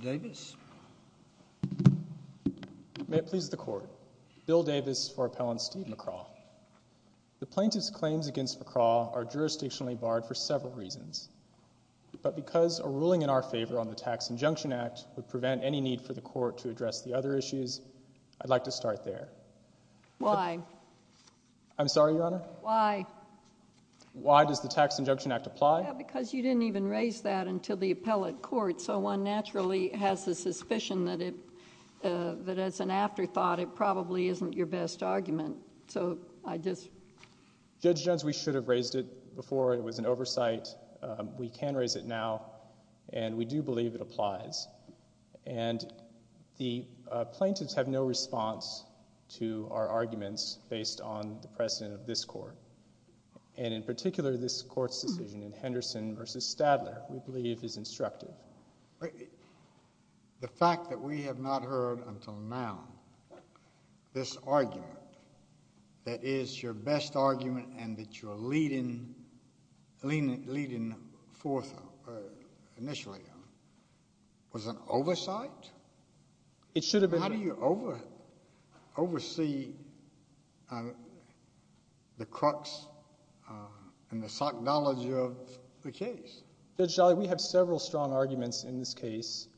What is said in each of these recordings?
Davis May it please the court bill Davis for appellant Steve McCraw The plaintiff's claims against McCraw are jurisdictionally barred for several reasons But because a ruling in our favor on the Tax Injunction Act would prevent any need for the court to address the other issues I'd like to start there Why? I'm sorry your honor why? Why does the Tax Injunction Act apply because you didn't even raise that until the appellate court so one naturally has the suspicion that it That it's an afterthought. It probably isn't your best argument, so I just Judge Jones we should have raised it before it was an oversight we can raise it now, and we do believe it applies and The plaintiffs have no response to our arguments based on the precedent of this court And in particular this court's decision in Henderson versus Stadler. We believe is instructive The fact that we have not heard until now this argument That is your best argument and that you are leading leaning leading forth initially Was an oversight It should have been you over oversee The Crux And the psychology of the case. Judge Jolly we have several strong arguments in this case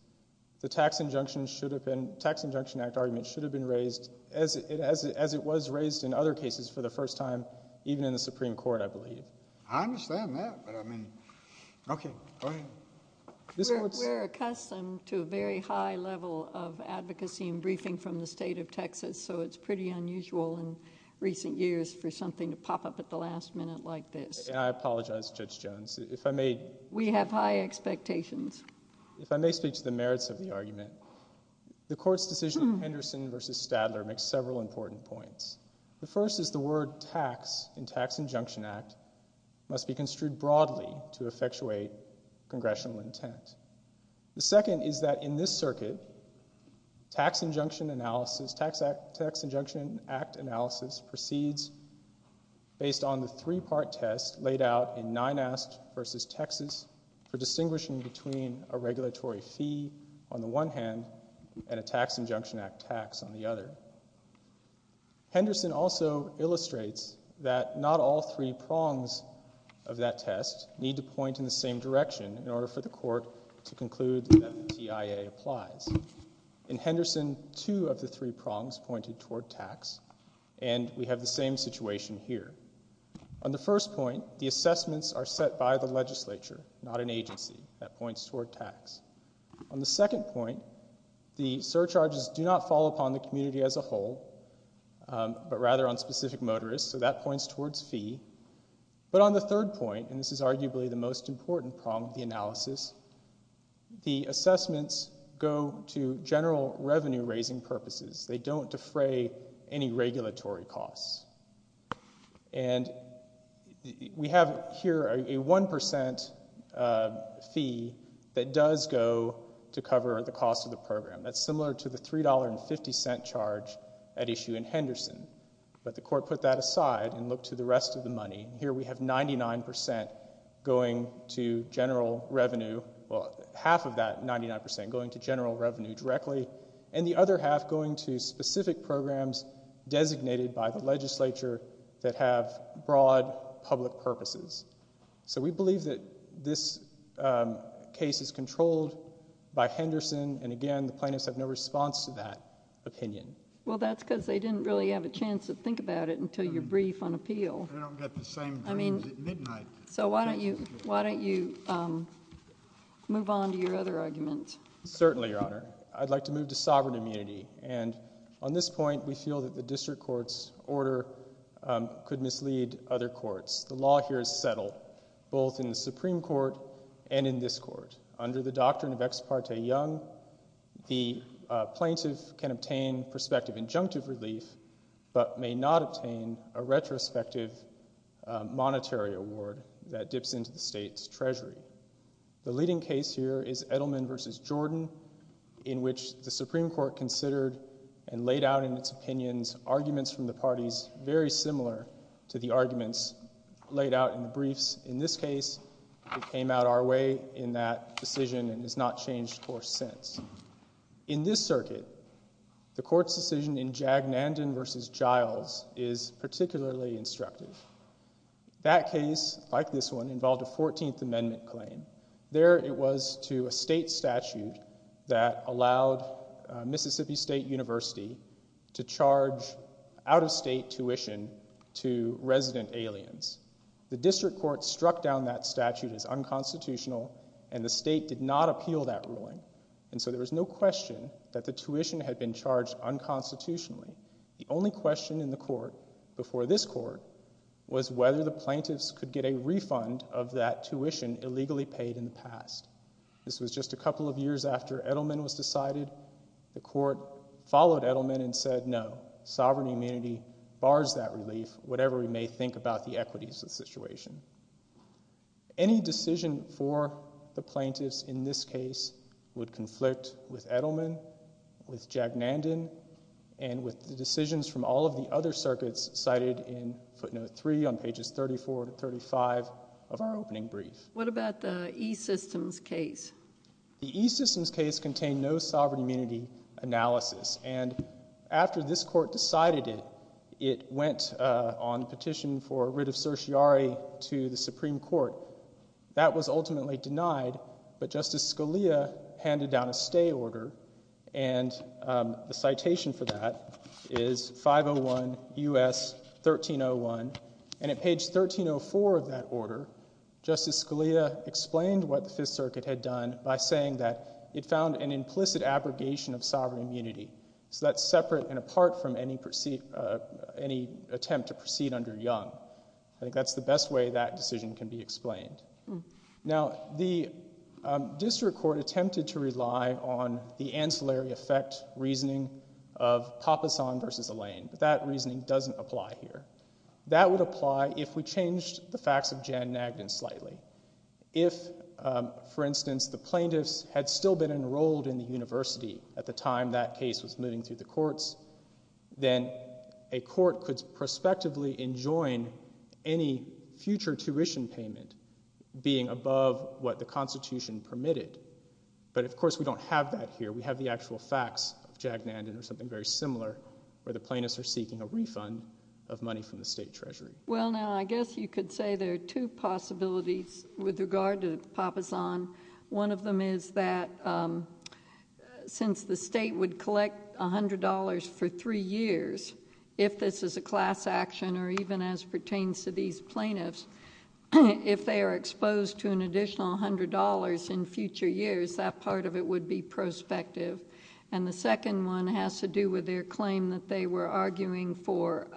The Tax Injunction should have been Tax Injunction Act argument should have been raised as it as it as it was raised in other cases For the first time even in the Supreme Court, I believe I understand that but I mean Okay We're accustomed to a very high level of advocacy and briefing from the state of Texas So it's pretty unusual in recent years for something to pop up at the last minute like this And I apologize judge Jones if I made we have high expectations If I may speak to the merits of the argument The court's decision in Henderson versus Stadler makes several important points. The first is the word tax in Tax Injunction Act Must be construed broadly to effectuate congressional intent The second is that in this circuit? Tax Injunction analysis Tax Act Tax Injunction Act analysis proceeds based on the three-part test laid out in nine asked versus, Texas for distinguishing between a Regulatory fee on the one hand and a Tax Injunction Act tax on the other Henderson also illustrates that not all three prongs of That test need to point in the same direction in order for the court to conclude Applies in Henderson two of the three prongs pointed toward tax and we have the same situation here on The first point the assessments are set by the legislature not an agency that points toward tax on the second point The surcharges do not fall upon the community as a whole But rather on specific motorists, so that points towards fee But on the third point and this is arguably the most important problem the analysis The assessments go to general revenue raising purposes. They don't defray any regulatory costs and We have here a 1% Fee that does go to cover the cost of the program That's similar to the three dollar and fifty cent charge at issue in Henderson But the court put that aside and look to the rest of the money here. We have 99% Going to general revenue Half of that 99% going to general revenue directly and the other half going to specific programs Designated by the legislature that have broad public purposes So we believe that this Case is controlled by Henderson. And again, the plaintiffs have no response to that opinion Well, that's because they didn't really have a chance to think about it until your brief on appeal I mean, so why don't you why don't you? Move on to your other argument certainly your honor I'd like to move to sovereign immunity and on this point we feel that the district courts order Could mislead other courts. The law here is settled both in the Supreme Court and in this court under the doctrine of ex parte young the plaintiff can obtain perspective injunctive relief But may not obtain a retrospective Monetary award that dips into the state's Treasury The leading case here is Edelman versus Jordan in which the Supreme Court considered and laid out in its opinions Arguments from the parties very similar to the arguments laid out in the briefs in this case It came out our way in that decision and has not changed course since in this circuit The court's decision in Jag Nanden versus Giles is particularly instructive That case like this one involved a 14th Amendment claim there. It was to a state statute that allowed Mississippi State University to charge out-of-state tuition to resident aliens The district court struck down that statute as unconstitutional and the state did not appeal that ruling And so there was no question that the tuition had been charged Unconstitutionally the only question in the court before this court Was whether the plaintiffs could get a refund of that tuition illegally paid in the past This was just a couple of years after Edelman was decided the court followed Edelman and said no Sovereign immunity bars that relief whatever we may think about the equities of the situation Any decision for the plaintiffs in this case would conflict with Edelman with Jag Nanden and With the decisions from all of the other circuits cited in footnote 3 on pages 34 to 35 of our opening brief What about the E-Systems case? The E-Systems case contained no sovereign immunity Analysis and after this court decided it it went on petition for a writ of certiorari to the Supreme Court that was ultimately denied, but justice Scalia handed down a stay order and the citation for that is 501 u.s 1301 and at page 1304 of that order Justice Scalia explained what the Fifth Circuit had done by saying that it found an implicit abrogation of sovereign immunity So that's separate and apart from any proceed Any attempt to proceed under Young I think that's the best way that decision can be explained now the District Court attempted to rely on the ancillary effect reasoning of Papasan versus Elaine, but that reasoning doesn't apply here. That would apply if we changed the facts of Jan Nagden slightly if For instance the plaintiffs had still been enrolled in the university at the time that case was moving through the courts Then a court could prospectively enjoin any future tuition payment Being above what the Constitution permitted, but of course we don't have that here We have the actual facts of Jack Nagden or something very similar Where the plaintiffs are seeking a refund of money from the state treasury well now I guess you could say there are two possibilities with regard to Papasan one of them is that Since the state would collect a hundred dollars for three years If this is a class action or even as pertains to these plaintiffs If they are exposed to an additional hundred dollars in future years that part of it would be Prospective and the second one has to do with their claim that they were arguing for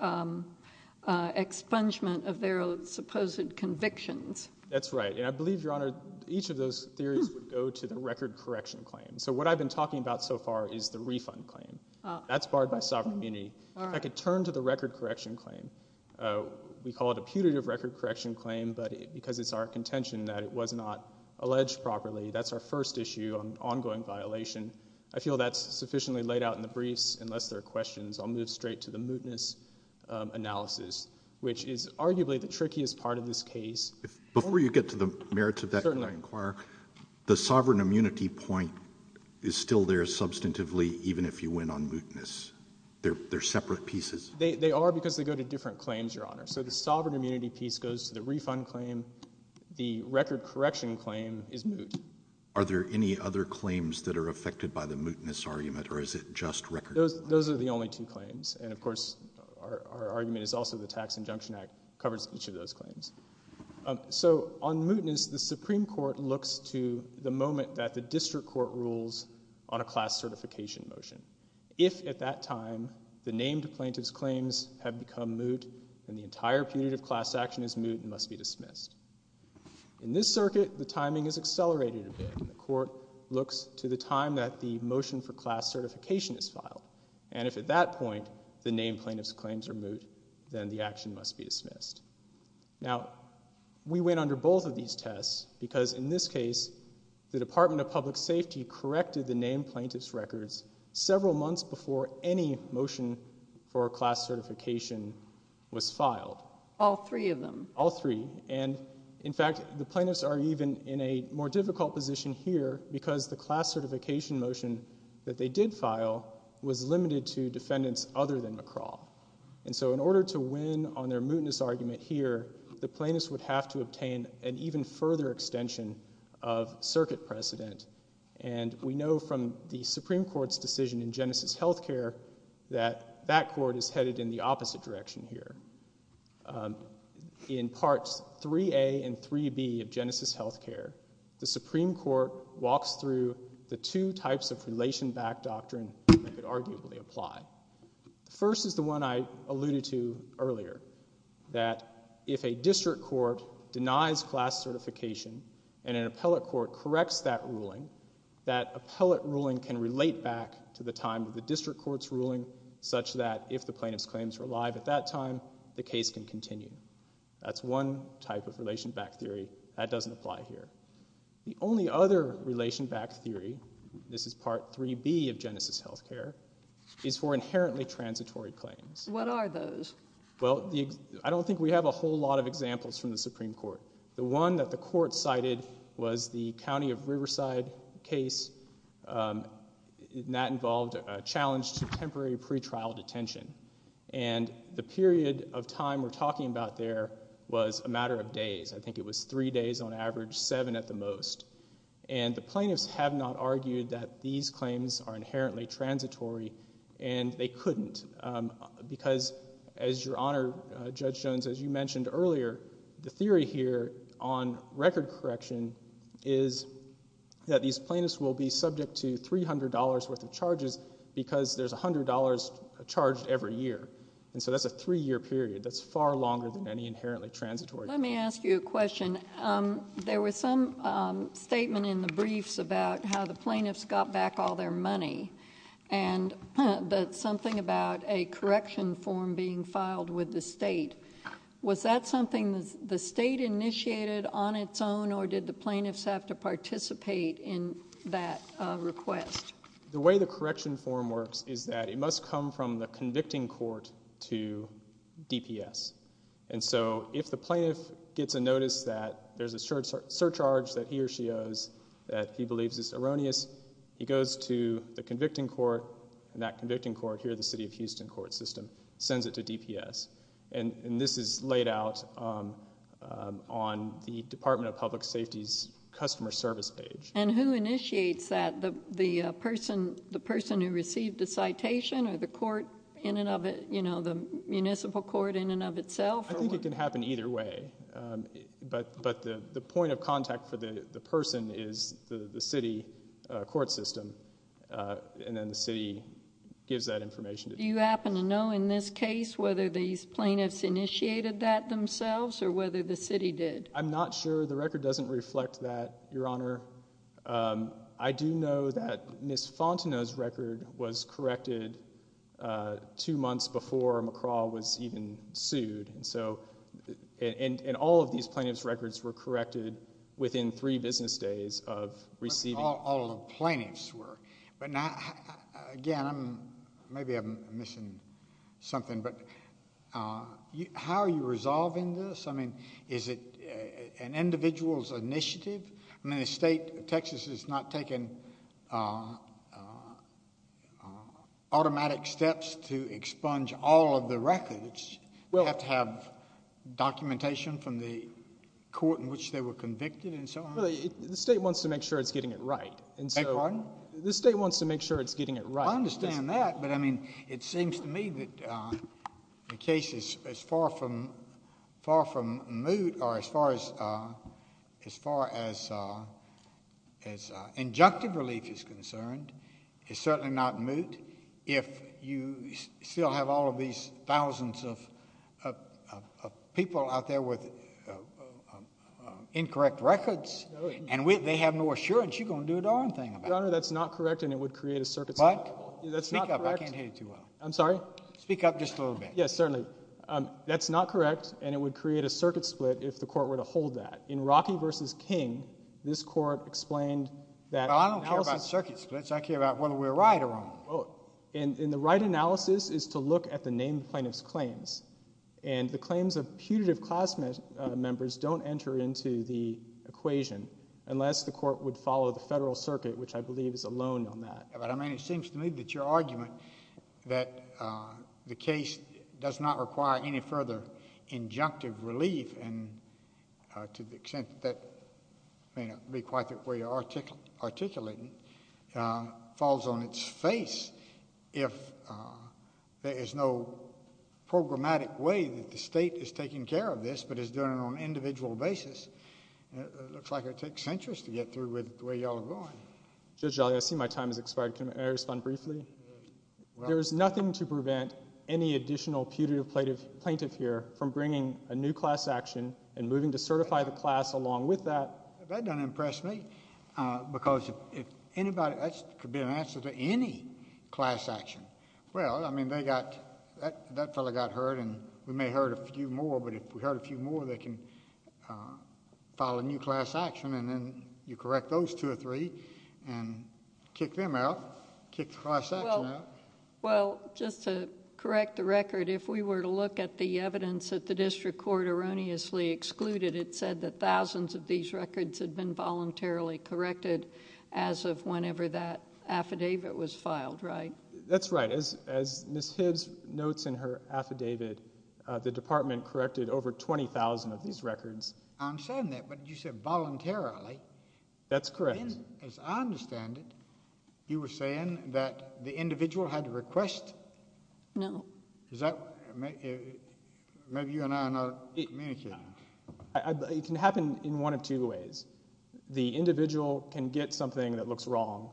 Expungement of their supposed convictions, that's right And I believe your honor each of those theories would go to the record correction claim So what I've been talking about so far is the refund claim. That's barred by sovereign immunity. I could turn to the record correction claim We call it a putative record correction claim, but because it's our contention that it was not alleged properly That's our first issue on ongoing violation. I feel that's sufficiently laid out in the briefs unless there are questions. I'll move straight to the mootness Analysis, which is arguably the trickiest part of this case before you get to the merits of that I inquire the sovereign immunity point is still there substantively even if you win on mootness They're they're separate pieces. They are because they go to different claims your honor So the sovereign immunity piece goes to the refund claim The record correction claim is moot Are there any other claims that are affected by the mootness argument or is it just record? Those are the only two claims and of course our argument is also the Tax Injunction Act covers each of those claims So on mootness the Supreme Court looks to the moment that the district court rules on a class certification motion If at that time the named plaintiff's claims have become moot and the entire period of class action is moot and must be dismissed In this circuit the timing is accelerated a bit the court looks to the time that the motion for class certification is filed And if at that point the named plaintiff's claims are moot, then the action must be dismissed now We went under both of these tests because in this case the Department of Public Safety Corrected the named plaintiff's records several months before any motion for a class certification Was filed all three of them all three and in fact The plaintiffs are even in a more difficult position here because the class certification motion that they did file Was limited to defendants other than McCraw and so in order to win on their mootness argument here the plaintiffs would have to obtain an even further extension of circuit precedent and We know from the Supreme Court's decision in Genesis Healthcare that that court is headed in the opposite direction here In parts 3a and 3b of Genesis Healthcare the Supreme Court walks through the two types of relation back doctrine arguably apply First is the one I alluded to earlier That if a district court denies class certification and an appellate court corrects that ruling That appellate ruling can relate back to the time of the district court's ruling Such that if the plaintiff's claims were alive at that time the case can continue That's one type of relation back theory that doesn't apply here the only other relation back theory This is part 3b of Genesis Healthcare is for inherently transitory claims. What are those? Well, I don't think we have a whole lot of examples from the Supreme Court The one that the court cited was the County of Riverside case That involved a challenge to temporary pretrial detention and The period of time we're talking about there was a matter of days I think it was three days on average seven at the most and the plaintiffs have not argued that these claims are inherently transitory and they couldn't Because as your honor judge Jones as you mentioned earlier the theory here on record correction is That these plaintiffs will be subject to $300 worth of charges because there's $100 charged every year And so that's a three year period that's far longer than any inherently transitory Let me ask you a question there was some statement in the briefs about how the plaintiffs got back all their money and That's something about a correction form being filed with the state Was that something the state initiated on its own or did the plaintiffs have to participate in that? request the way the correction form works is that it must come from the convicting court to DPS and so if the plaintiff gets a notice that there's a surcharge that he or she owes That he believes is erroneous He goes to the convicting court and that convicting court here the city of Houston court system sends it to DPS And and this is laid out on the Department of Public Safety's customer service page and who initiates that the the The person who received the citation or the court in and of it, you know the municipal court in and of itself I think it can happen either way But but the the point of contact for the the person is the the city court system and then the city Gives that information. Do you happen to know in this case whether these plaintiffs initiated that themselves or whether the city did? I'm not sure the record doesn't reflect that your honor I do know that miss Fontenot's record was corrected two months before McCraw was even sued and so And and all of these plaintiffs records were corrected within three business days of receiving all the plaintiffs were but not again, I'm maybe I'm missing something but How are you resolving this? I mean, is it an individual's initiative? I mean the state of Texas is not taking Automatic steps to expunge all of the records. We'll have to have documentation from the Court in which they were convicted and so the state wants to make sure it's getting it, right And so the state wants to make sure it's getting it, right I understand that but I mean it seems to me that the case is as far from far from moot or as far as As far as as Injunctive relief is concerned. It's certainly not moot if you still have all of these thousands of People out there with Incorrect records and with they have no assurance you're gonna do a darn thing about that's not correct and it would create a circuit But that's not I can't hate you. Well, I'm sorry speak up just a little bit. Yes, certainly That's not correct and it would create a circuit split if the court were to hold that in Rocky vs King this court explained that I don't care about circuit splits I care about whether we're right or wrong and in the right analysis is to look at the named plaintiffs claims and the claims of putative class members don't enter into the Equation unless the court would follow the Federal Circuit, which I believe is alone on that But I mean it seems to me that your argument that The case does not require any further injunctive relief and to the extent that May not be quite that way article articulating falls on its face if There is no Programmatic way that the state is taking care of this but it's doing it on an individual basis Looks like it takes centuries to get through with the way y'all are going. Good jolly. I see my time is expired Can I respond briefly? There's nothing to prevent any additional putative plaintiff plaintiff here from bringing a new class action and moving to certify the class Along with that that doesn't impress me Because if anybody that's could be an answer to any class action well I mean they got that fella got hurt and we may hurt a few more but if we hurt a few more they can follow a new class action and then you correct those two or three and Well, just to correct the record if we were to look at the evidence that the district court erroneously excluded It said that thousands of these records had been voluntarily corrected as of whenever that Affidavit was filed, right? That's right as as miss Hibbs notes in her affidavit The department corrected over 20,000 of these records. I'm saying that but you said voluntarily That's correct You were saying that the individual had to request no It can happen in one of two ways The individual can get something that looks wrong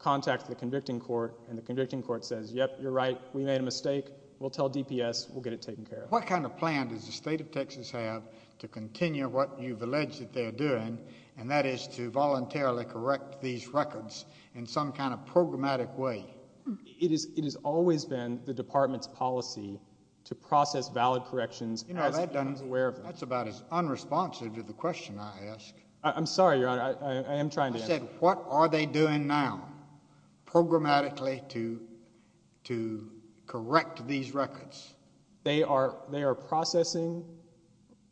Contact the convicting court and the convicting court says yep. You're right. We made a mistake. We'll tell DPS. We'll get it taken care What kind of plan does the state of Texas have to continue what you've alleged that they're doing and that is to voluntarily Correct these records in some kind of programmatic way It is it has always been the department's policy to process valid corrections You know that done is aware of that's about as unresponsive to the question. I ask I'm sorry your honor I am trying to say what are they doing now? programmatically to to Correct these records. They are they are processing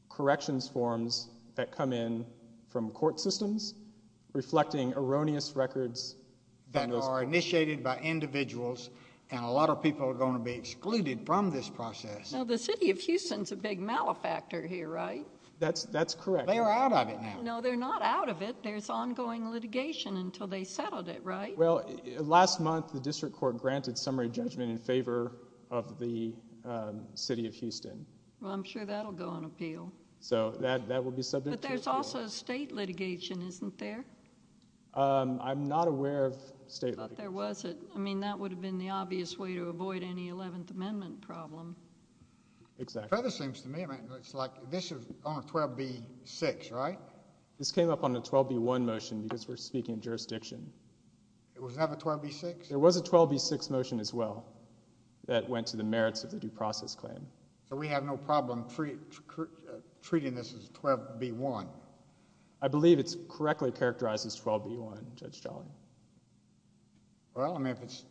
Corrections forms that come in from court systems reflecting erroneous records That are initiated by individuals and a lot of people are going to be excluded from this process Now the city of Houston's a big malefactor here, right? That's that's correct. They are out of it now No, they're not out of it. There's ongoing litigation until they settled it, right? Last month the district court granted summary judgment in favor of the City of Houston. I'm sure that'll go on appeal. So that that will be subject. There's also a state litigation, isn't there? I'm not aware of state. There was it. I mean that would have been the obvious way to avoid any 11th Amendment problem Exactly seems to me. It's like this is 12 b6, right? This came up on the 12 b1 motion because we're speaking of jurisdiction There was a 12 b6 motion as well That went to the merits of the due process claim. So we have no problem free Treating this as 12 b1. I believe it's correctly characterized as 12 b1 judge Charlie Well, I mean if it's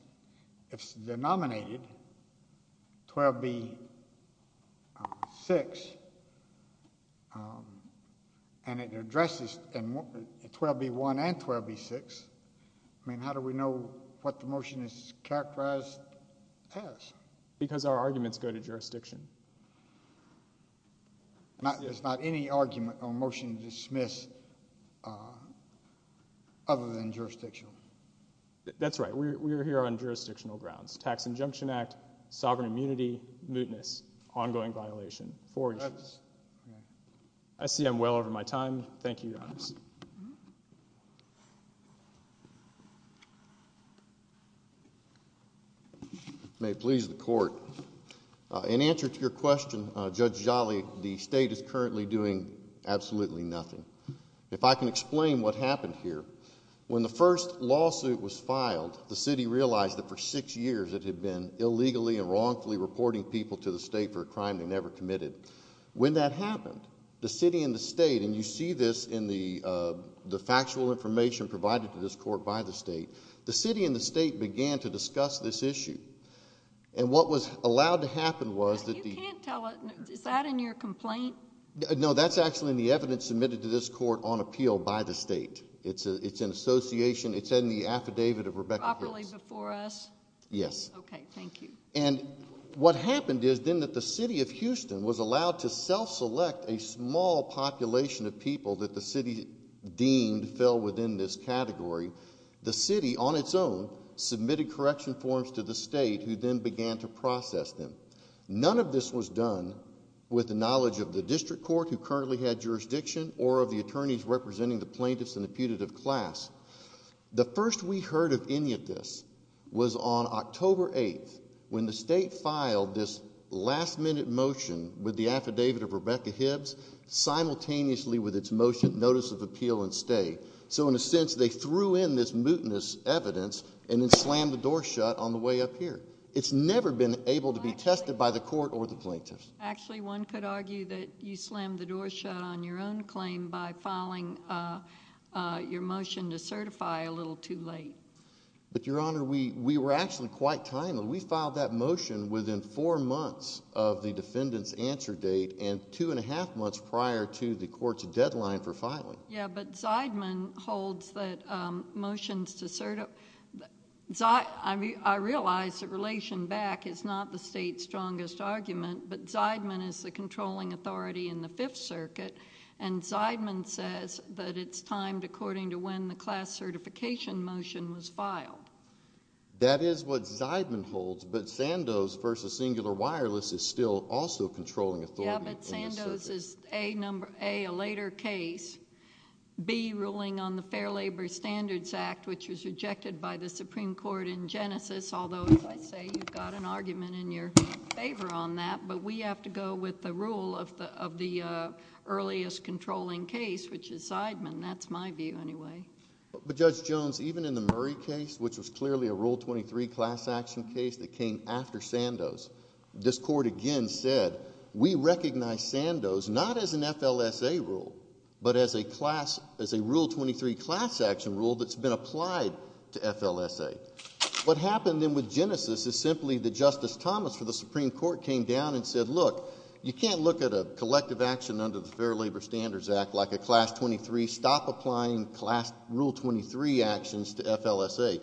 if it's denominated 12 b 6 And it addresses and 12 b1 and 12 b6 I mean, how do we know what the motion is characterized as? Because our arguments go to jurisdiction Not there's not any argument on motion dismissed Other than jurisdictional That's right. We're here on jurisdictional grounds tax injunction act sovereign immunity mootness ongoing violation for us. I See, I'm well over my time. Thank you You May please the court In answer to your question judge Jolly the state is currently doing absolutely nothing If I can explain what happened here when the first lawsuit was filed the city realized that for six years It had been illegally and wrongfully reporting people to the state for a crime they never committed when that happened the city in the state and you see this in the The factual information provided to this court by the state the city in the state began to discuss this issue and What was allowed to happen was that the? Is that in your complaint? No, that's actually in the evidence submitted to this court on appeal by the state. It's a it's an association It's in the affidavit of Rebecca Yes What happened is then that the city of Houston was allowed to self-select a small population of people that the city Deemed fell within this category the city on its own Submitted correction forms to the state who then began to process them None of this was done with the knowledge of the district court who currently had jurisdiction or of the attorneys representing the plaintiffs and the putative class The first we heard of any of this was on October 8th when the state filed this last-minute motion with the affidavit of Rebecca Hibbs Simultaneously with its motion notice of appeal and stay so in a sense They threw in this mutinous evidence and then slammed the door shut on the way up here It's never been able to be tested by the court or the plaintiffs Actually one could argue that you slammed the door shut on your own claim by filing Your motion to certify a little too late But your honor we we were actually quite timely we filed that motion within four months of the defendant's answer date and two and a Half months prior to the court's deadline for filing. Yeah, but Zeidman holds that motions to certify I Realized that relation back is not the state's strongest argument But Zeidman is the controlling authority in the Fifth Circuit and Zeidman says that it's timed according to when the class certification motion was filed That is what Zeidman holds but Sandoz versus singular wireless is still also controlling a number a a later case Be ruling on the Fair Labor Standards Act, which was rejected by the Supreme Court in Genesis although I say you've got an argument in your favor on that, but we have to go with the rule of the Earliest controlling case which is Zeidman. That's my view Anyway, but judge Jones even in the Murray case, which was clearly a rule 23 class action case that came after Sandoz This court again said we recognize Sandoz not as an FLSA rule But as a class as a rule 23 class action rule that's been applied to FLSA what happened then with Genesis is simply the Justice Thomas for the Supreme Court came down and said look You can't look at a collective action under the Fair Labor Standards Act like a class 23 Stop applying class rule 23 actions to FLSA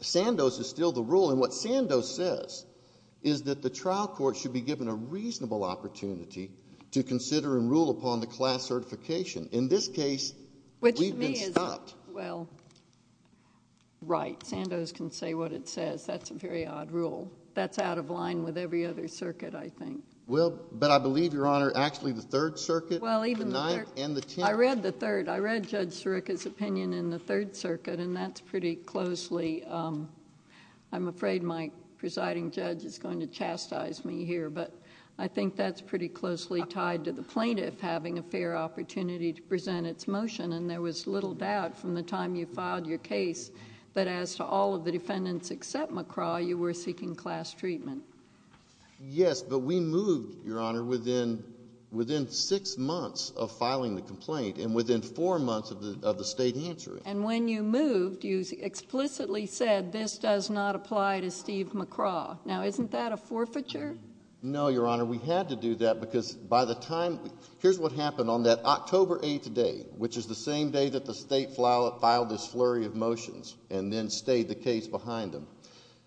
Sandoz is still the rule and what Sandoz says is that the trial court should be given a reasonable opportunity To consider and rule upon the class certification in this case Well Right Sandoz can say what it says. That's a very odd rule. That's out of line with every other circuit I think well, but I believe your honor actually the Third Circuit I read the third. I read judge Sirica's opinion in the Third Circuit, and that's pretty closely I'm afraid my presiding judge is going to chastise me here But I think that's pretty closely tied to the plaintiff having a fair opportunity to present its motion And there was little doubt from the time you filed your case But as to all of the defendants except McCraw you were seeking class treatment Yes, but we moved your honor within Within six months of filing the complaint and within four months of the state answering and when you moved you Explicitly said this does not apply to Steve McCraw now isn't that a forfeiture? No, your honor. We had to do that because by the time here's what happened on that October 8th today Which is the same day that the state file it filed this flurry of motions? And then stayed the case behind them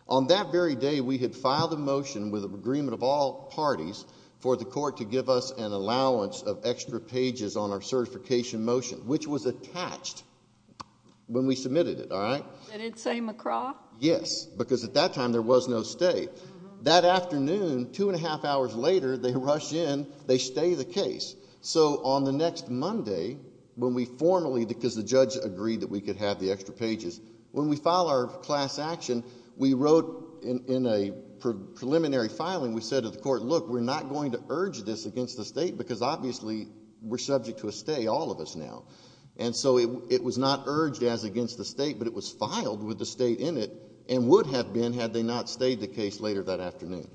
on that very day We had filed a motion with an agreement of all parties for the court to give us an allowance of extra pages on our certification motion which was attached When we submitted it all right? Yes, because at that time there was no state that afternoon two and a half hours later They rush in they stay the case so on the next Monday When we formally because the judge agreed that we could have the extra pages when we file our class action we wrote in a Preliminary filing we said to the court look We're not going to urge this against the state because obviously we're subject to a stay all of us now And so it was not urged as against the state But it was filed with the state in it and would have been had they not stayed the case later that afternoon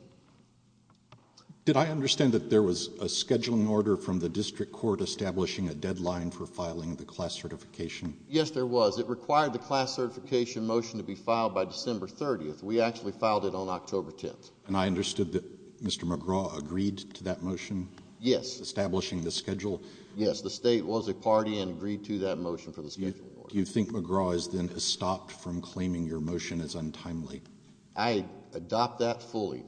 Did I understand that there was a scheduling order from the district court establishing a deadline for filing the class certification Yes, there was it required the class certification motion to be filed by December 30th We actually filed it on October 10th, and I understood that mr.. McGraw agreed to that motion Yes, establishing the schedule. Yes, the state was a party and agreed to that motion for this Do you think McGraw is then stopped from claiming your motion is untimely I? Adopt that fully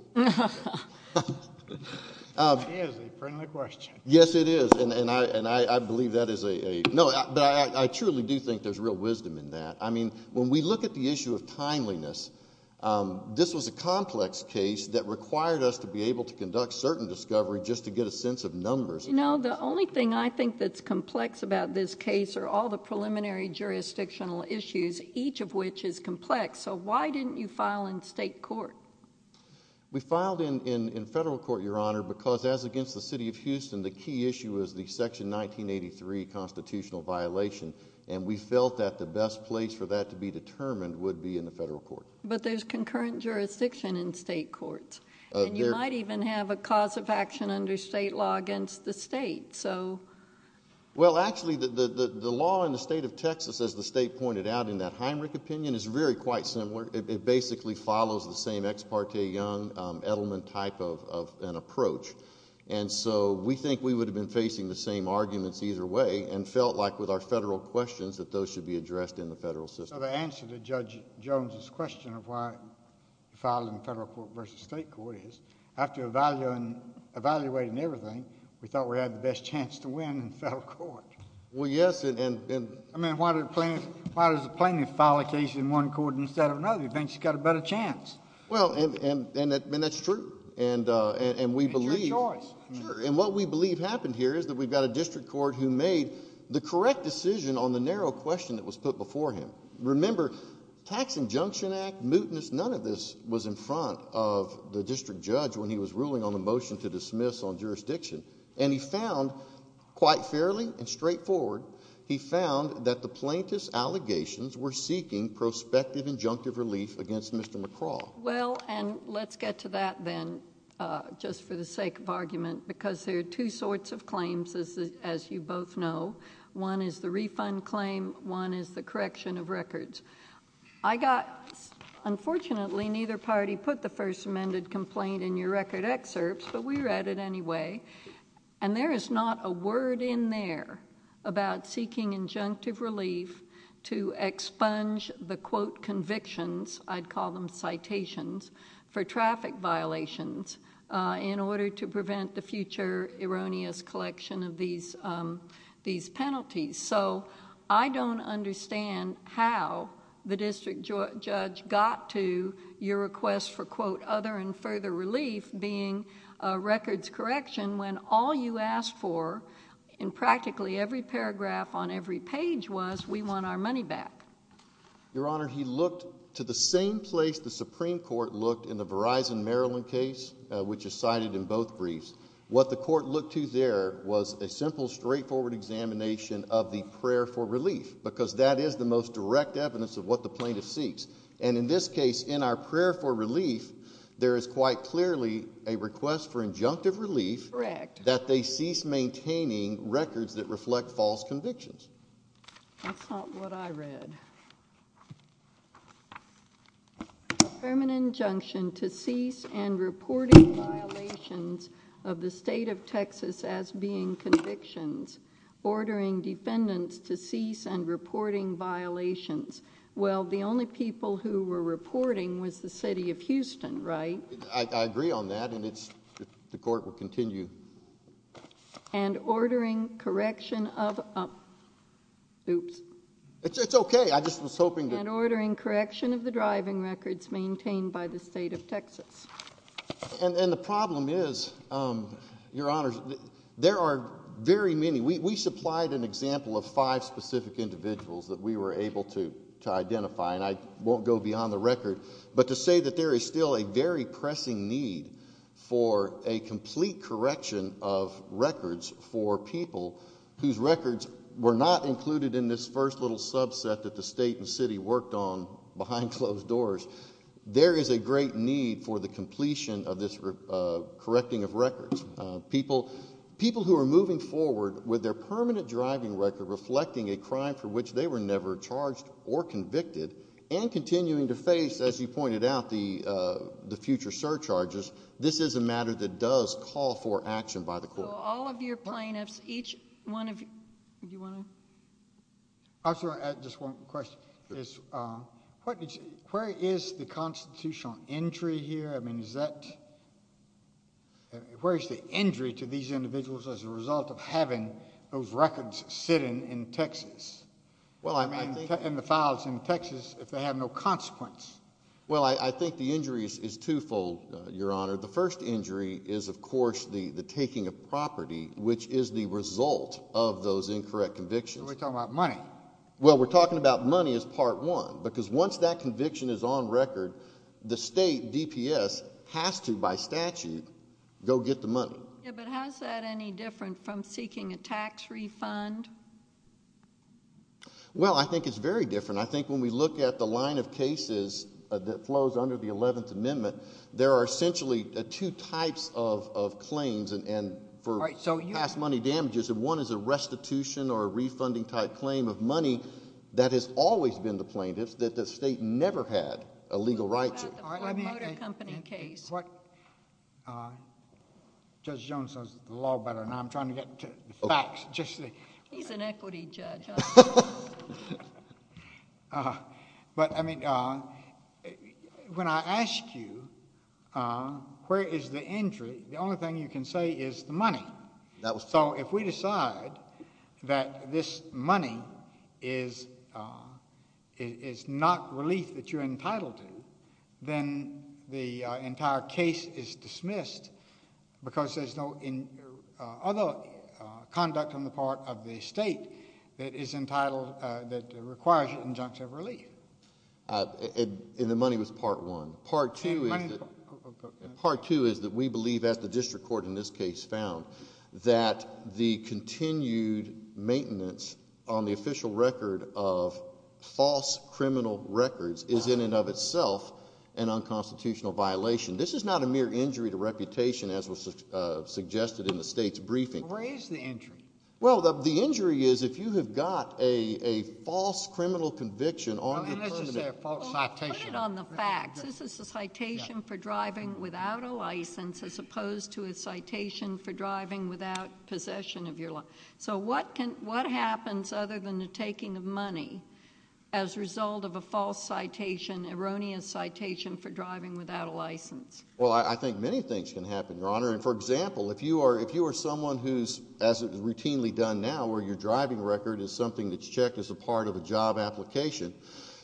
Yes, it is and and I and I I believe that is a no I truly do think there's real wisdom in that I mean when we look at the issue of timeliness This was a complex case that required us to be able to conduct certain discovery Just to get a sense of numbers. You know the only thing I think that's complex about this case are all the preliminary Jurisdictional issues each of which is complex, so why didn't you file in state court? We filed in in in federal court your honor because as against the city of Houston the key issue is the section 1983 Constitutional violation and we felt that the best place for that to be determined would be in the federal court But there's concurrent jurisdiction in state courts And you might even have a cause of action under state law against the state so Well actually the the law in the state of Texas as the state pointed out in that Heinrich opinion is very quite similar it basically follows the same ex parte young Edelman type of an approach and So we think we would have been facing the same Arguments either way and felt like with our federal questions that those should be addressed in the federal system the answer to judge Jones's question of why Filing federal court versus state court is after a value and Evaluating everything we thought we had the best chance to win in federal court well Yes And I mean why do the plaintiffs why does the plaintiff file a case in one court instead of another you think she's got a better Chance well, and and that's true and and we believe And what we believe happened here is that we've got a district court who made the correct decision on the narrow question that was put before him remember Tax injunction act mutinous none of this was in front of the district judge when he was ruling on the motion to dismiss on jurisdiction and he found Quite fairly and straightforward he found that the plaintiffs allegations were seeking Prospective injunctive relief against mr.. McCraw well, and let's get to that then Just for the sake of argument because there are two sorts of claims as you both know One is the refund claim one is the correction of records. I got Unfortunately neither party put the first amended complaint in your record excerpts, but we read it anyway And there is not a word in there about seeking injunctive relief to expunge The quote convictions I'd call them citations for traffic violations in order to prevent the future erroneous collection of these These penalties, so I don't understand how the district judge got to your request for quote other and further relief being Records correction when all you asked for in practically every paragraph on every page was we want our money back Your honor he looked to the same place the Supreme Court looked in the Verizon, Maryland case Which is cited in both briefs what the court looked to there was a simple straightforward Examination of the prayer for relief because that is the most direct evidence of what the plaintiff seeks and in this case in our prayer for relief There is quite clearly a request for injunctive relief correct that they cease maintaining records that reflect false convictions What I read Permanent injunction to cease and reporting violations of the state of Texas as being convictions ordering defendants to cease and reporting violations Well, the only people who were reporting was the city of Houston, right? I agree on that and it's the court will continue and ordering correction of Oops, it's okay. I just was hoping that ordering correction of the driving records maintained by the state of, Texas and the problem is Your honors. There are very many we supplied an example of five specific individuals that we were able to Identify and I won't go beyond the record but to say that there is still a very pressing need for a complete correction of Records for people whose records were not included in this first little subset that the state and city worked on behind closed doors There is a great need for the completion of this correcting of records people people who are moving forward with their permanent driving record reflecting a crime for which they were never charged or convicted and continuing to face as you pointed out the The future surcharges, this is a matter that does call for action by the court all of your plaintiffs each one of you I'm sorry. I just want question is what where is the constitutional injury here? I mean, is that Where's the injury to these individuals as a result of having those records sitting in Texas Well, I mean in the files in Texas if they have no consequence Well, I think the injuries is twofold your honor The first injury is of course the the taking of property which is the result of those incorrect convictions. We're talking about money Well, we're talking about money as part one because once that conviction is on record the state DPS has to by statute Go get the money From seeking a tax refund Well, I think it's very different I think when we look at the line of cases That flows under the 11th Amendment There are essentially two types of of claims and and for right So you ask money damages and one is a restitution or a refunding type claim of money That has always been the plaintiffs that the state never had a legal right to What Judge Jones says the law better and I'm trying to get facts just he's an equity judge But I mean When I asked you Where is the injury? The only thing you can say is the money that was so if we decide that this money is It's not relief that you're entitled to then the entire case is dismissed Because there's no in other Conduct on the part of the state that is entitled that requires an injunction of relief And in the money was part one part two Part two is that we believe as the district court in this case found that the continued maintenance on the official record of False criminal records is in and of itself an unconstitutional violation. This is not a mere injury to reputation as was Suggested in the state's briefing. Where is the injury? Well, the injury is if you have got a a false criminal conviction on The facts this is a citation for driving without a license as opposed to a citation for driving without Possession of your life. So what can what happens other than the taking of money as Result of a false citation erroneous citation for driving without a license Well, I think many things can happen your honor And for example If you are if you are someone who's as it was routinely done now where your driving record is something that's checked as a part of a job application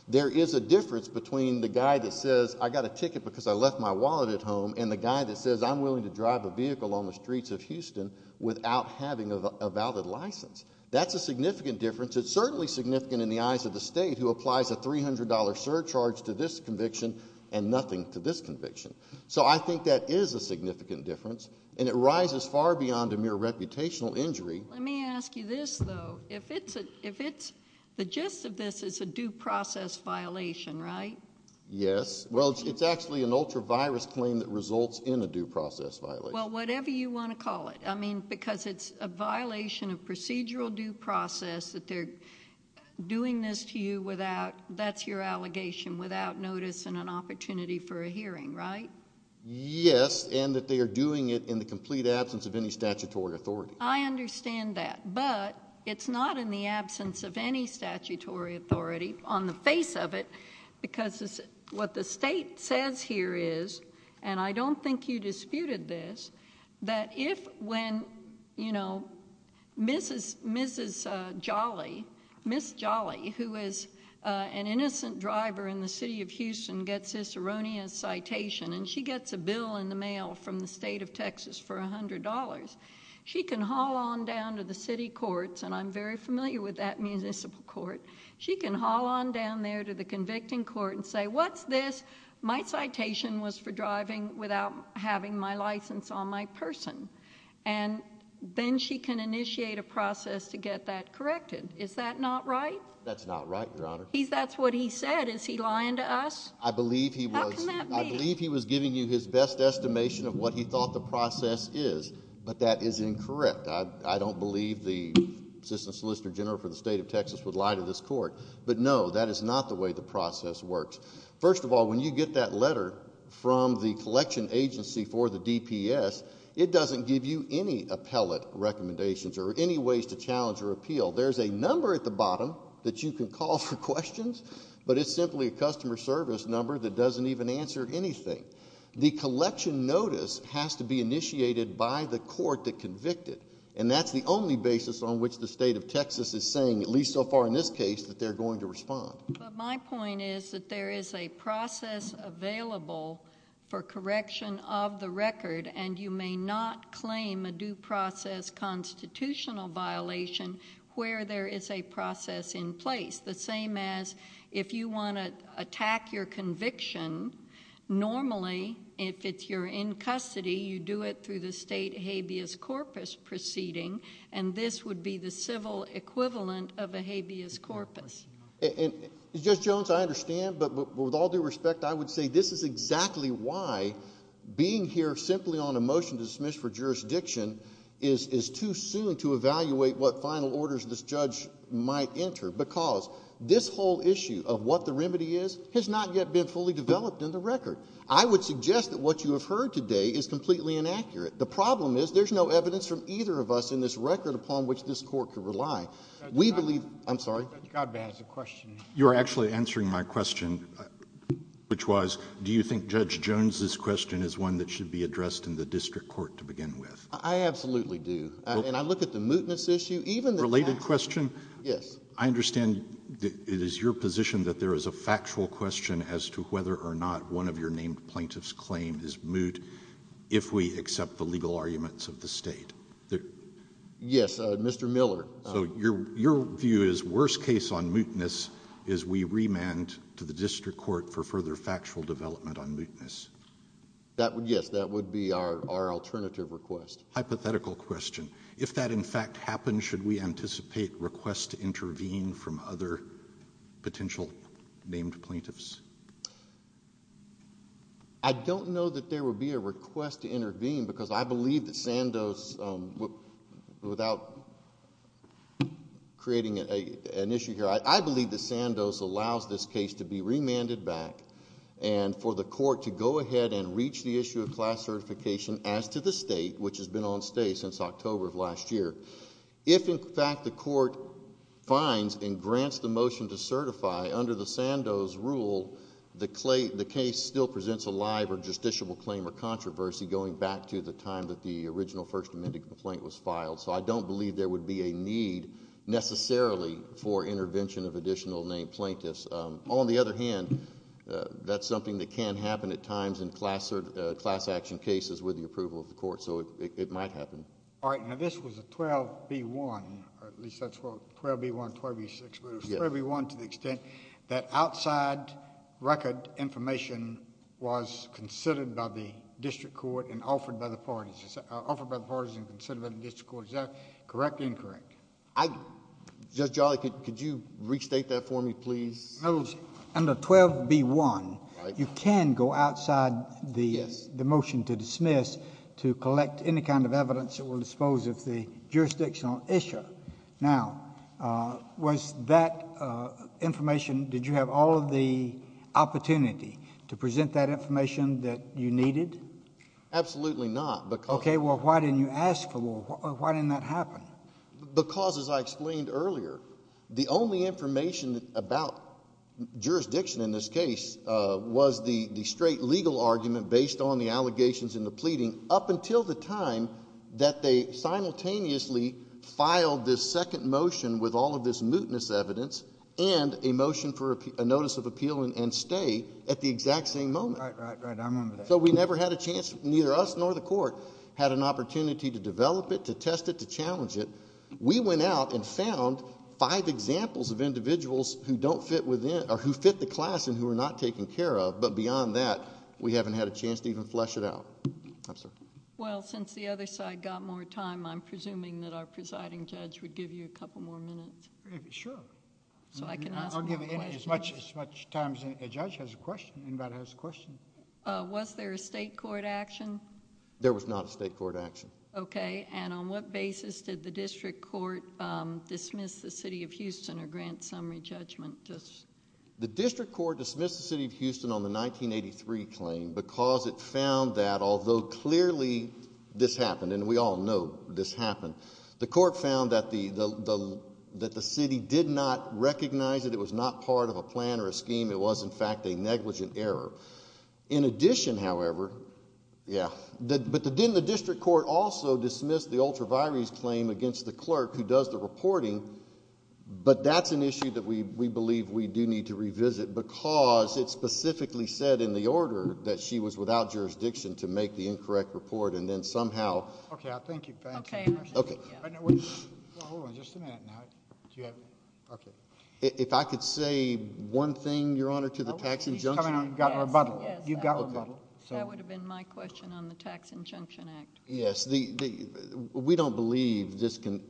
There is a difference between the guy that says I got a ticket because I left my wallet at home and the guy that says I'm willing to drive a vehicle on the streets of Houston without having a valid license. That's a significant difference It's certainly significant in the eyes of the state who applies a $300 surcharge to this conviction and nothing to this conviction So I think that is a significant difference and it rises far beyond a mere reputational injury Let me ask you this though. If it's a if it's the gist of this is a due process violation, right? Yes, well, it's actually an ultra virus claim that results in a due process violation. Well, whatever you want to call it I mean because it's a violation of procedural due process that they're Doing this to you without that's your allegation without notice and an opportunity for a hearing, right? Yes, and that they are doing it in the complete absence of any statutory authority I understand that but it's not in the absence of any statutory authority on the face of it Because this is what the state says here is and I don't think you disputed this that if when you know Mrs. Mrs. Jolly Miss Jolly who is an innocent driver in the city of Houston gets this erroneous Citation and she gets a bill in the mail from the state of Texas for $100 She can haul on down to the city courts, and I'm very familiar with that municipal court She can haul on down there to the convicting court and say what's this? my citation was for driving without having my license on my person and Then she can initiate a process to get that corrected, is that not right? That's not right your honor He's that's what he said. Is he lying to us? I believe he was Believe he was giving you his best estimation of what he thought the process is, but that is incorrect I don't believe the assistant solicitor general for the state of Texas would lie to this court But no that is not the way the process works First of all when you get that letter from the collection agency for the DPS It doesn't give you any appellate recommendations or any ways to challenge or appeal There's a number at the bottom that you can call for questions But it's simply a customer service number that doesn't even answer anything The collection notice has to be initiated by the court that convicted And that's the only basis on which the state of Texas is saying at least so far in this case that they're going to respond My point is that there is a process Available for correction of the record and you may not claim a due process Constitutional violation where there is a process in place the same as if you want to attack your conviction Normally if it's you're in custody you do it through the state habeas corpus Proceeding and this would be the civil equivalent of a habeas corpus And just Jones I understand but with all due respect I would say this is exactly why Being here simply on a motion to dismiss for jurisdiction is is too soon to evaluate What final orders this judge might enter because this whole issue of what the remedy is has not yet been fully developed in the record I would suggest that what you have heard today is completely inaccurate The problem is there's no evidence from either of us in this record upon which this court could rely we believe I'm sorry You're actually answering my question Which was do you think judge Jones this question is one that should be addressed in the district court to begin with I? Absolutely, do and I look at the mootness issue even related question. Yes, I understand It is your position that there is a factual question as to whether or not one of your named plaintiffs claim is moot If we accept the legal arguments of the state there Yes, mr. Miller so your your view is worst case on mootness is we remand to the district court for further factual development on mootness That would yes, that would be our alternative request hypothetical question if that in fact happened should we anticipate? requests to intervene from other potential named plaintiffs I Don't know that there would be a request to intervene because I believe that Sandoz without Creating a an issue here I believe the Sandoz allows this case to be remanded back and For the court to go ahead and reach the issue of class certification as to the state which has been on stay since October of last year if in fact the court Finds and grants the motion to certify under the Sandoz rule the clay the case still presents a live or justiciable claim or So I don't believe there would be a need Necessarily for intervention of additional named plaintiffs on the other hand That's something that can happen at times in class or class action cases with the approval of the court So it might happen. All right. Now, this was a 12 b1 Everyone to the extent that outside record information Was considered by the district court and offered by the parties offered by the partisan conservative discourse, correct? Incorrect? I Just jolly. Could you restate that for me, please? No under 12 b1 you can go outside the the motion to dismiss to collect any kind of evidence that will dispose of the jurisdictional issue now Was that? Information did you have all of the? Opportunity to present that information that you needed Absolutely, not but okay. Well, why didn't you ask for why didn't that happen? because as I explained earlier the only information about jurisdiction in this case Was the the straight legal argument based on the allegations in the pleading up until the time that they simultaneously Filed this second motion with all of this mootness evidence and a motion for a notice of appeal and stay at the exact same moment So we never had a chance neither us nor the court had an opportunity to develop it to test it to challenge it We went out and found five examples of individuals who don't fit within or who fit the class and who are not taken care of But beyond that we haven't had a chance to even flesh it out Well since the other side got more time, I'm presuming that our presiding judge would give you a couple more minutes Sure So I can I'll give it as much as much time as a judge has a question anybody has a question Was there a state court action? There was not a state court action. Okay, and on what basis did the district court? dismiss the city of Houston or grant summary judgment just The district court dismissed the city of Houston on the 1983 claim because it found that although clearly This happened and we all know this happened. The court found that the That the city did not recognize that it was not part of a plan or a scheme. It was in fact a negligent error in addition, however Yeah, but the didn't the district court also dismissed the ultra virus claim against the clerk who does the reporting? But that's an issue that we believe we do need to revisit because it specifically said in the order that she was without Jurisdiction to make the incorrect report and then somehow If I could say one thing your honor to the tax injunction Yes, the We don't believe this can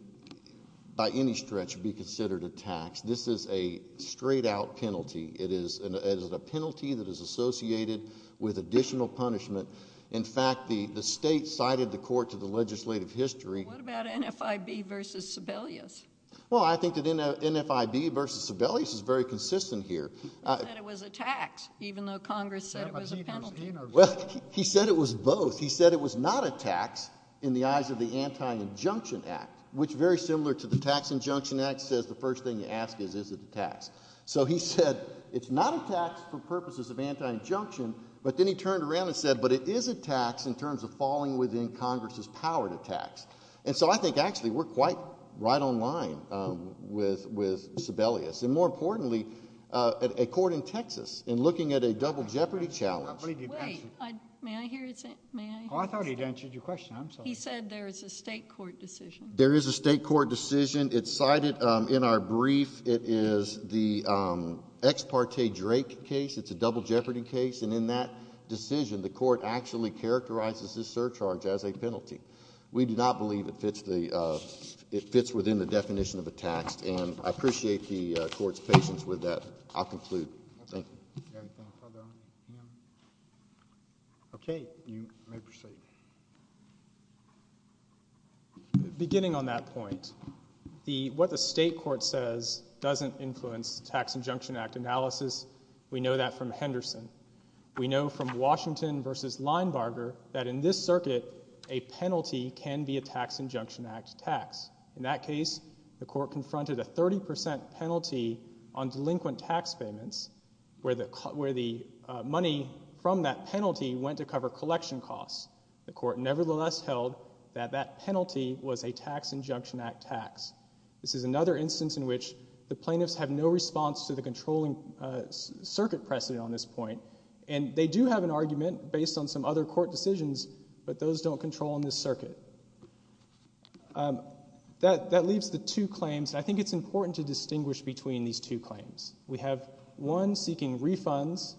By any stretch be considered a tax. This is a straight-out penalty It is as a penalty that is associated with additional punishment In fact, the the state cited the court to the legislative history Well, I think that in a NFIB versus Sibelius is very consistent here He said it was both he said it was not a tax in the eyes of the anti-injunction Which very similar to the tax injunction act says the first thing you ask is is it a tax? So he said it's not a tax for purposes of anti-injunction But then he turned around and said but it is a tax in terms of falling within Congress's power to tax And so I think actually we're quite right on line With with Sibelius and more importantly at a court in Texas and looking at a double jeopardy challenge I thought he'd answered your question. He said there is a state court decision. There is a state court decision It's cited in our brief. It is the Ex parte Drake case. It's a double jeopardy case and in that decision the court actually Characterizes this surcharge as a penalty We do not believe it fits the it fits within the definition of a taxed and I appreciate the court's patience with that I'll conclude Okay, you may proceed Beginning on that point The what the state court says doesn't influence tax injunction act analysis. We know that from Henderson we know from Washington versus Linebarger that in this circuit a Penalty can be a tax injunction act tax in that case the court confronted a 30% penalty on delinquent tax payments Where the cut where the money from that penalty went to cover collection costs the court nevertheless held that that penalty Was a tax injunction act tax. This is another instance in which the plaintiffs have no response to the controlling Circuit precedent on this point and they do have an argument based on some other court decisions, but those don't control in this circuit That that leaves the two claims I think it's important to distinguish between these two claims We have one seeking refunds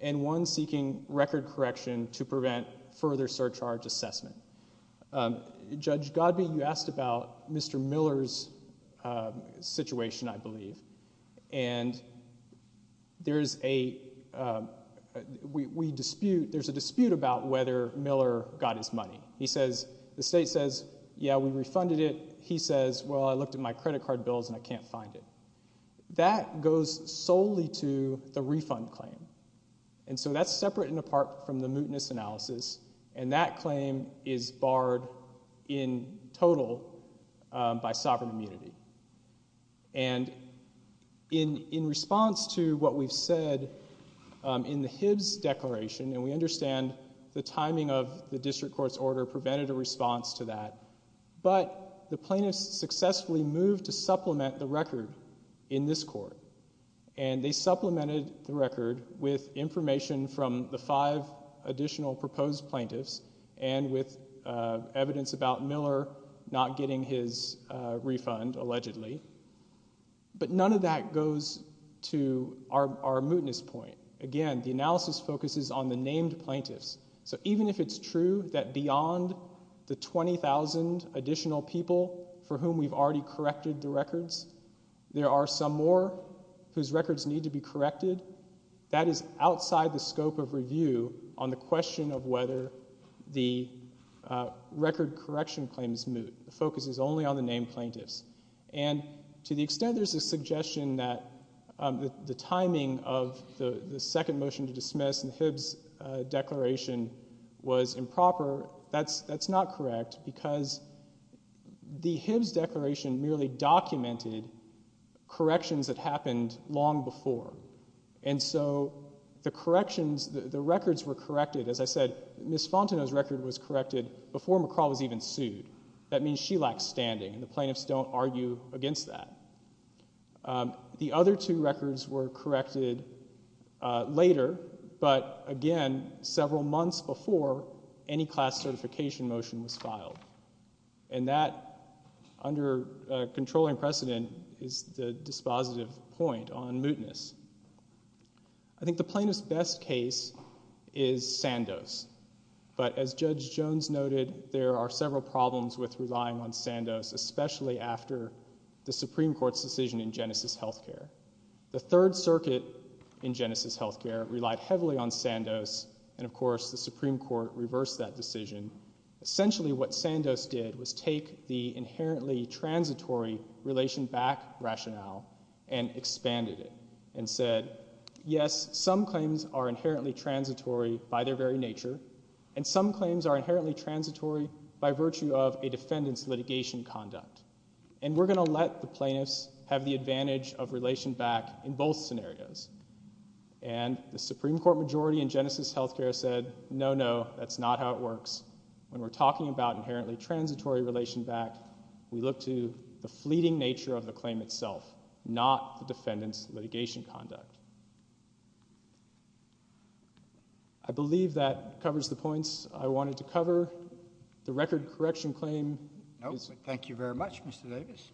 and one seeking record correction to prevent further surcharge assessment Judge Godby you asked about mr. Miller's Situation I believe and there is a We dispute there's a dispute about whether Miller got his money. He says the state says yeah, we refunded it He says well, I looked at my credit card bills and I can't find it That goes solely to the refund claim And so that's separate and apart from the mootness analysis and that claim is barred in total by sovereign immunity and In in response to what we've said In the Hibbs declaration and we understand the timing of the district courts order prevented a response to that But the plaintiffs successfully moved to supplement the record in this court and they supplemented the record with information from the five additional proposed plaintiffs and with evidence about Miller not getting his refund allegedly But none of that goes to our mootness point again the analysis focuses on the named plaintiffs So even if it's true that beyond the 20,000 additional people for whom we've already corrected the records There are some more whose records need to be corrected that is outside the scope of review on the question of whether the record correction claims moot the focus is only on the named plaintiffs and to the extent there's a suggestion that the timing of the the second motion to dismiss and the Hibbs Declaration was improper. That's that's not correct because the Hibbs declaration merely documented Corrections that happened long before and so the corrections the records were corrected as I said Miss Fontenot's record was corrected before McCraw was even sued that means she lacks standing and the plaintiffs don't argue against that The other two records were corrected Later but again several months before any class certification motion was filed and that under Controlling precedent is the dispositive point on mootness. I Think the plaintiff's best case is Sandoz But as Judge Jones noted there are several problems with relying on Sandoz Especially after the Supreme Court's decision in Genesis Health Care The Third Circuit in Genesis Health Care relied heavily on Sandoz and of course the Supreme Court reversed that decision essentially what Sandoz did was take the inherently transitory relation back rationale and Expanded it and said yes some claims are inherently transitory by their very nature and some claims are inherently Transitory by virtue of a defendant's litigation conduct and we're going to let the plaintiffs have the advantage of relation back in both scenarios and The Supreme Court majority in Genesis Health Care said no. No, that's not how it works when we're talking about inherently transitory relation back We look to the fleeting nature of the claim itself not the defendant's litigation conduct. I The record correction claim. No, thank you very much. Mr. Davis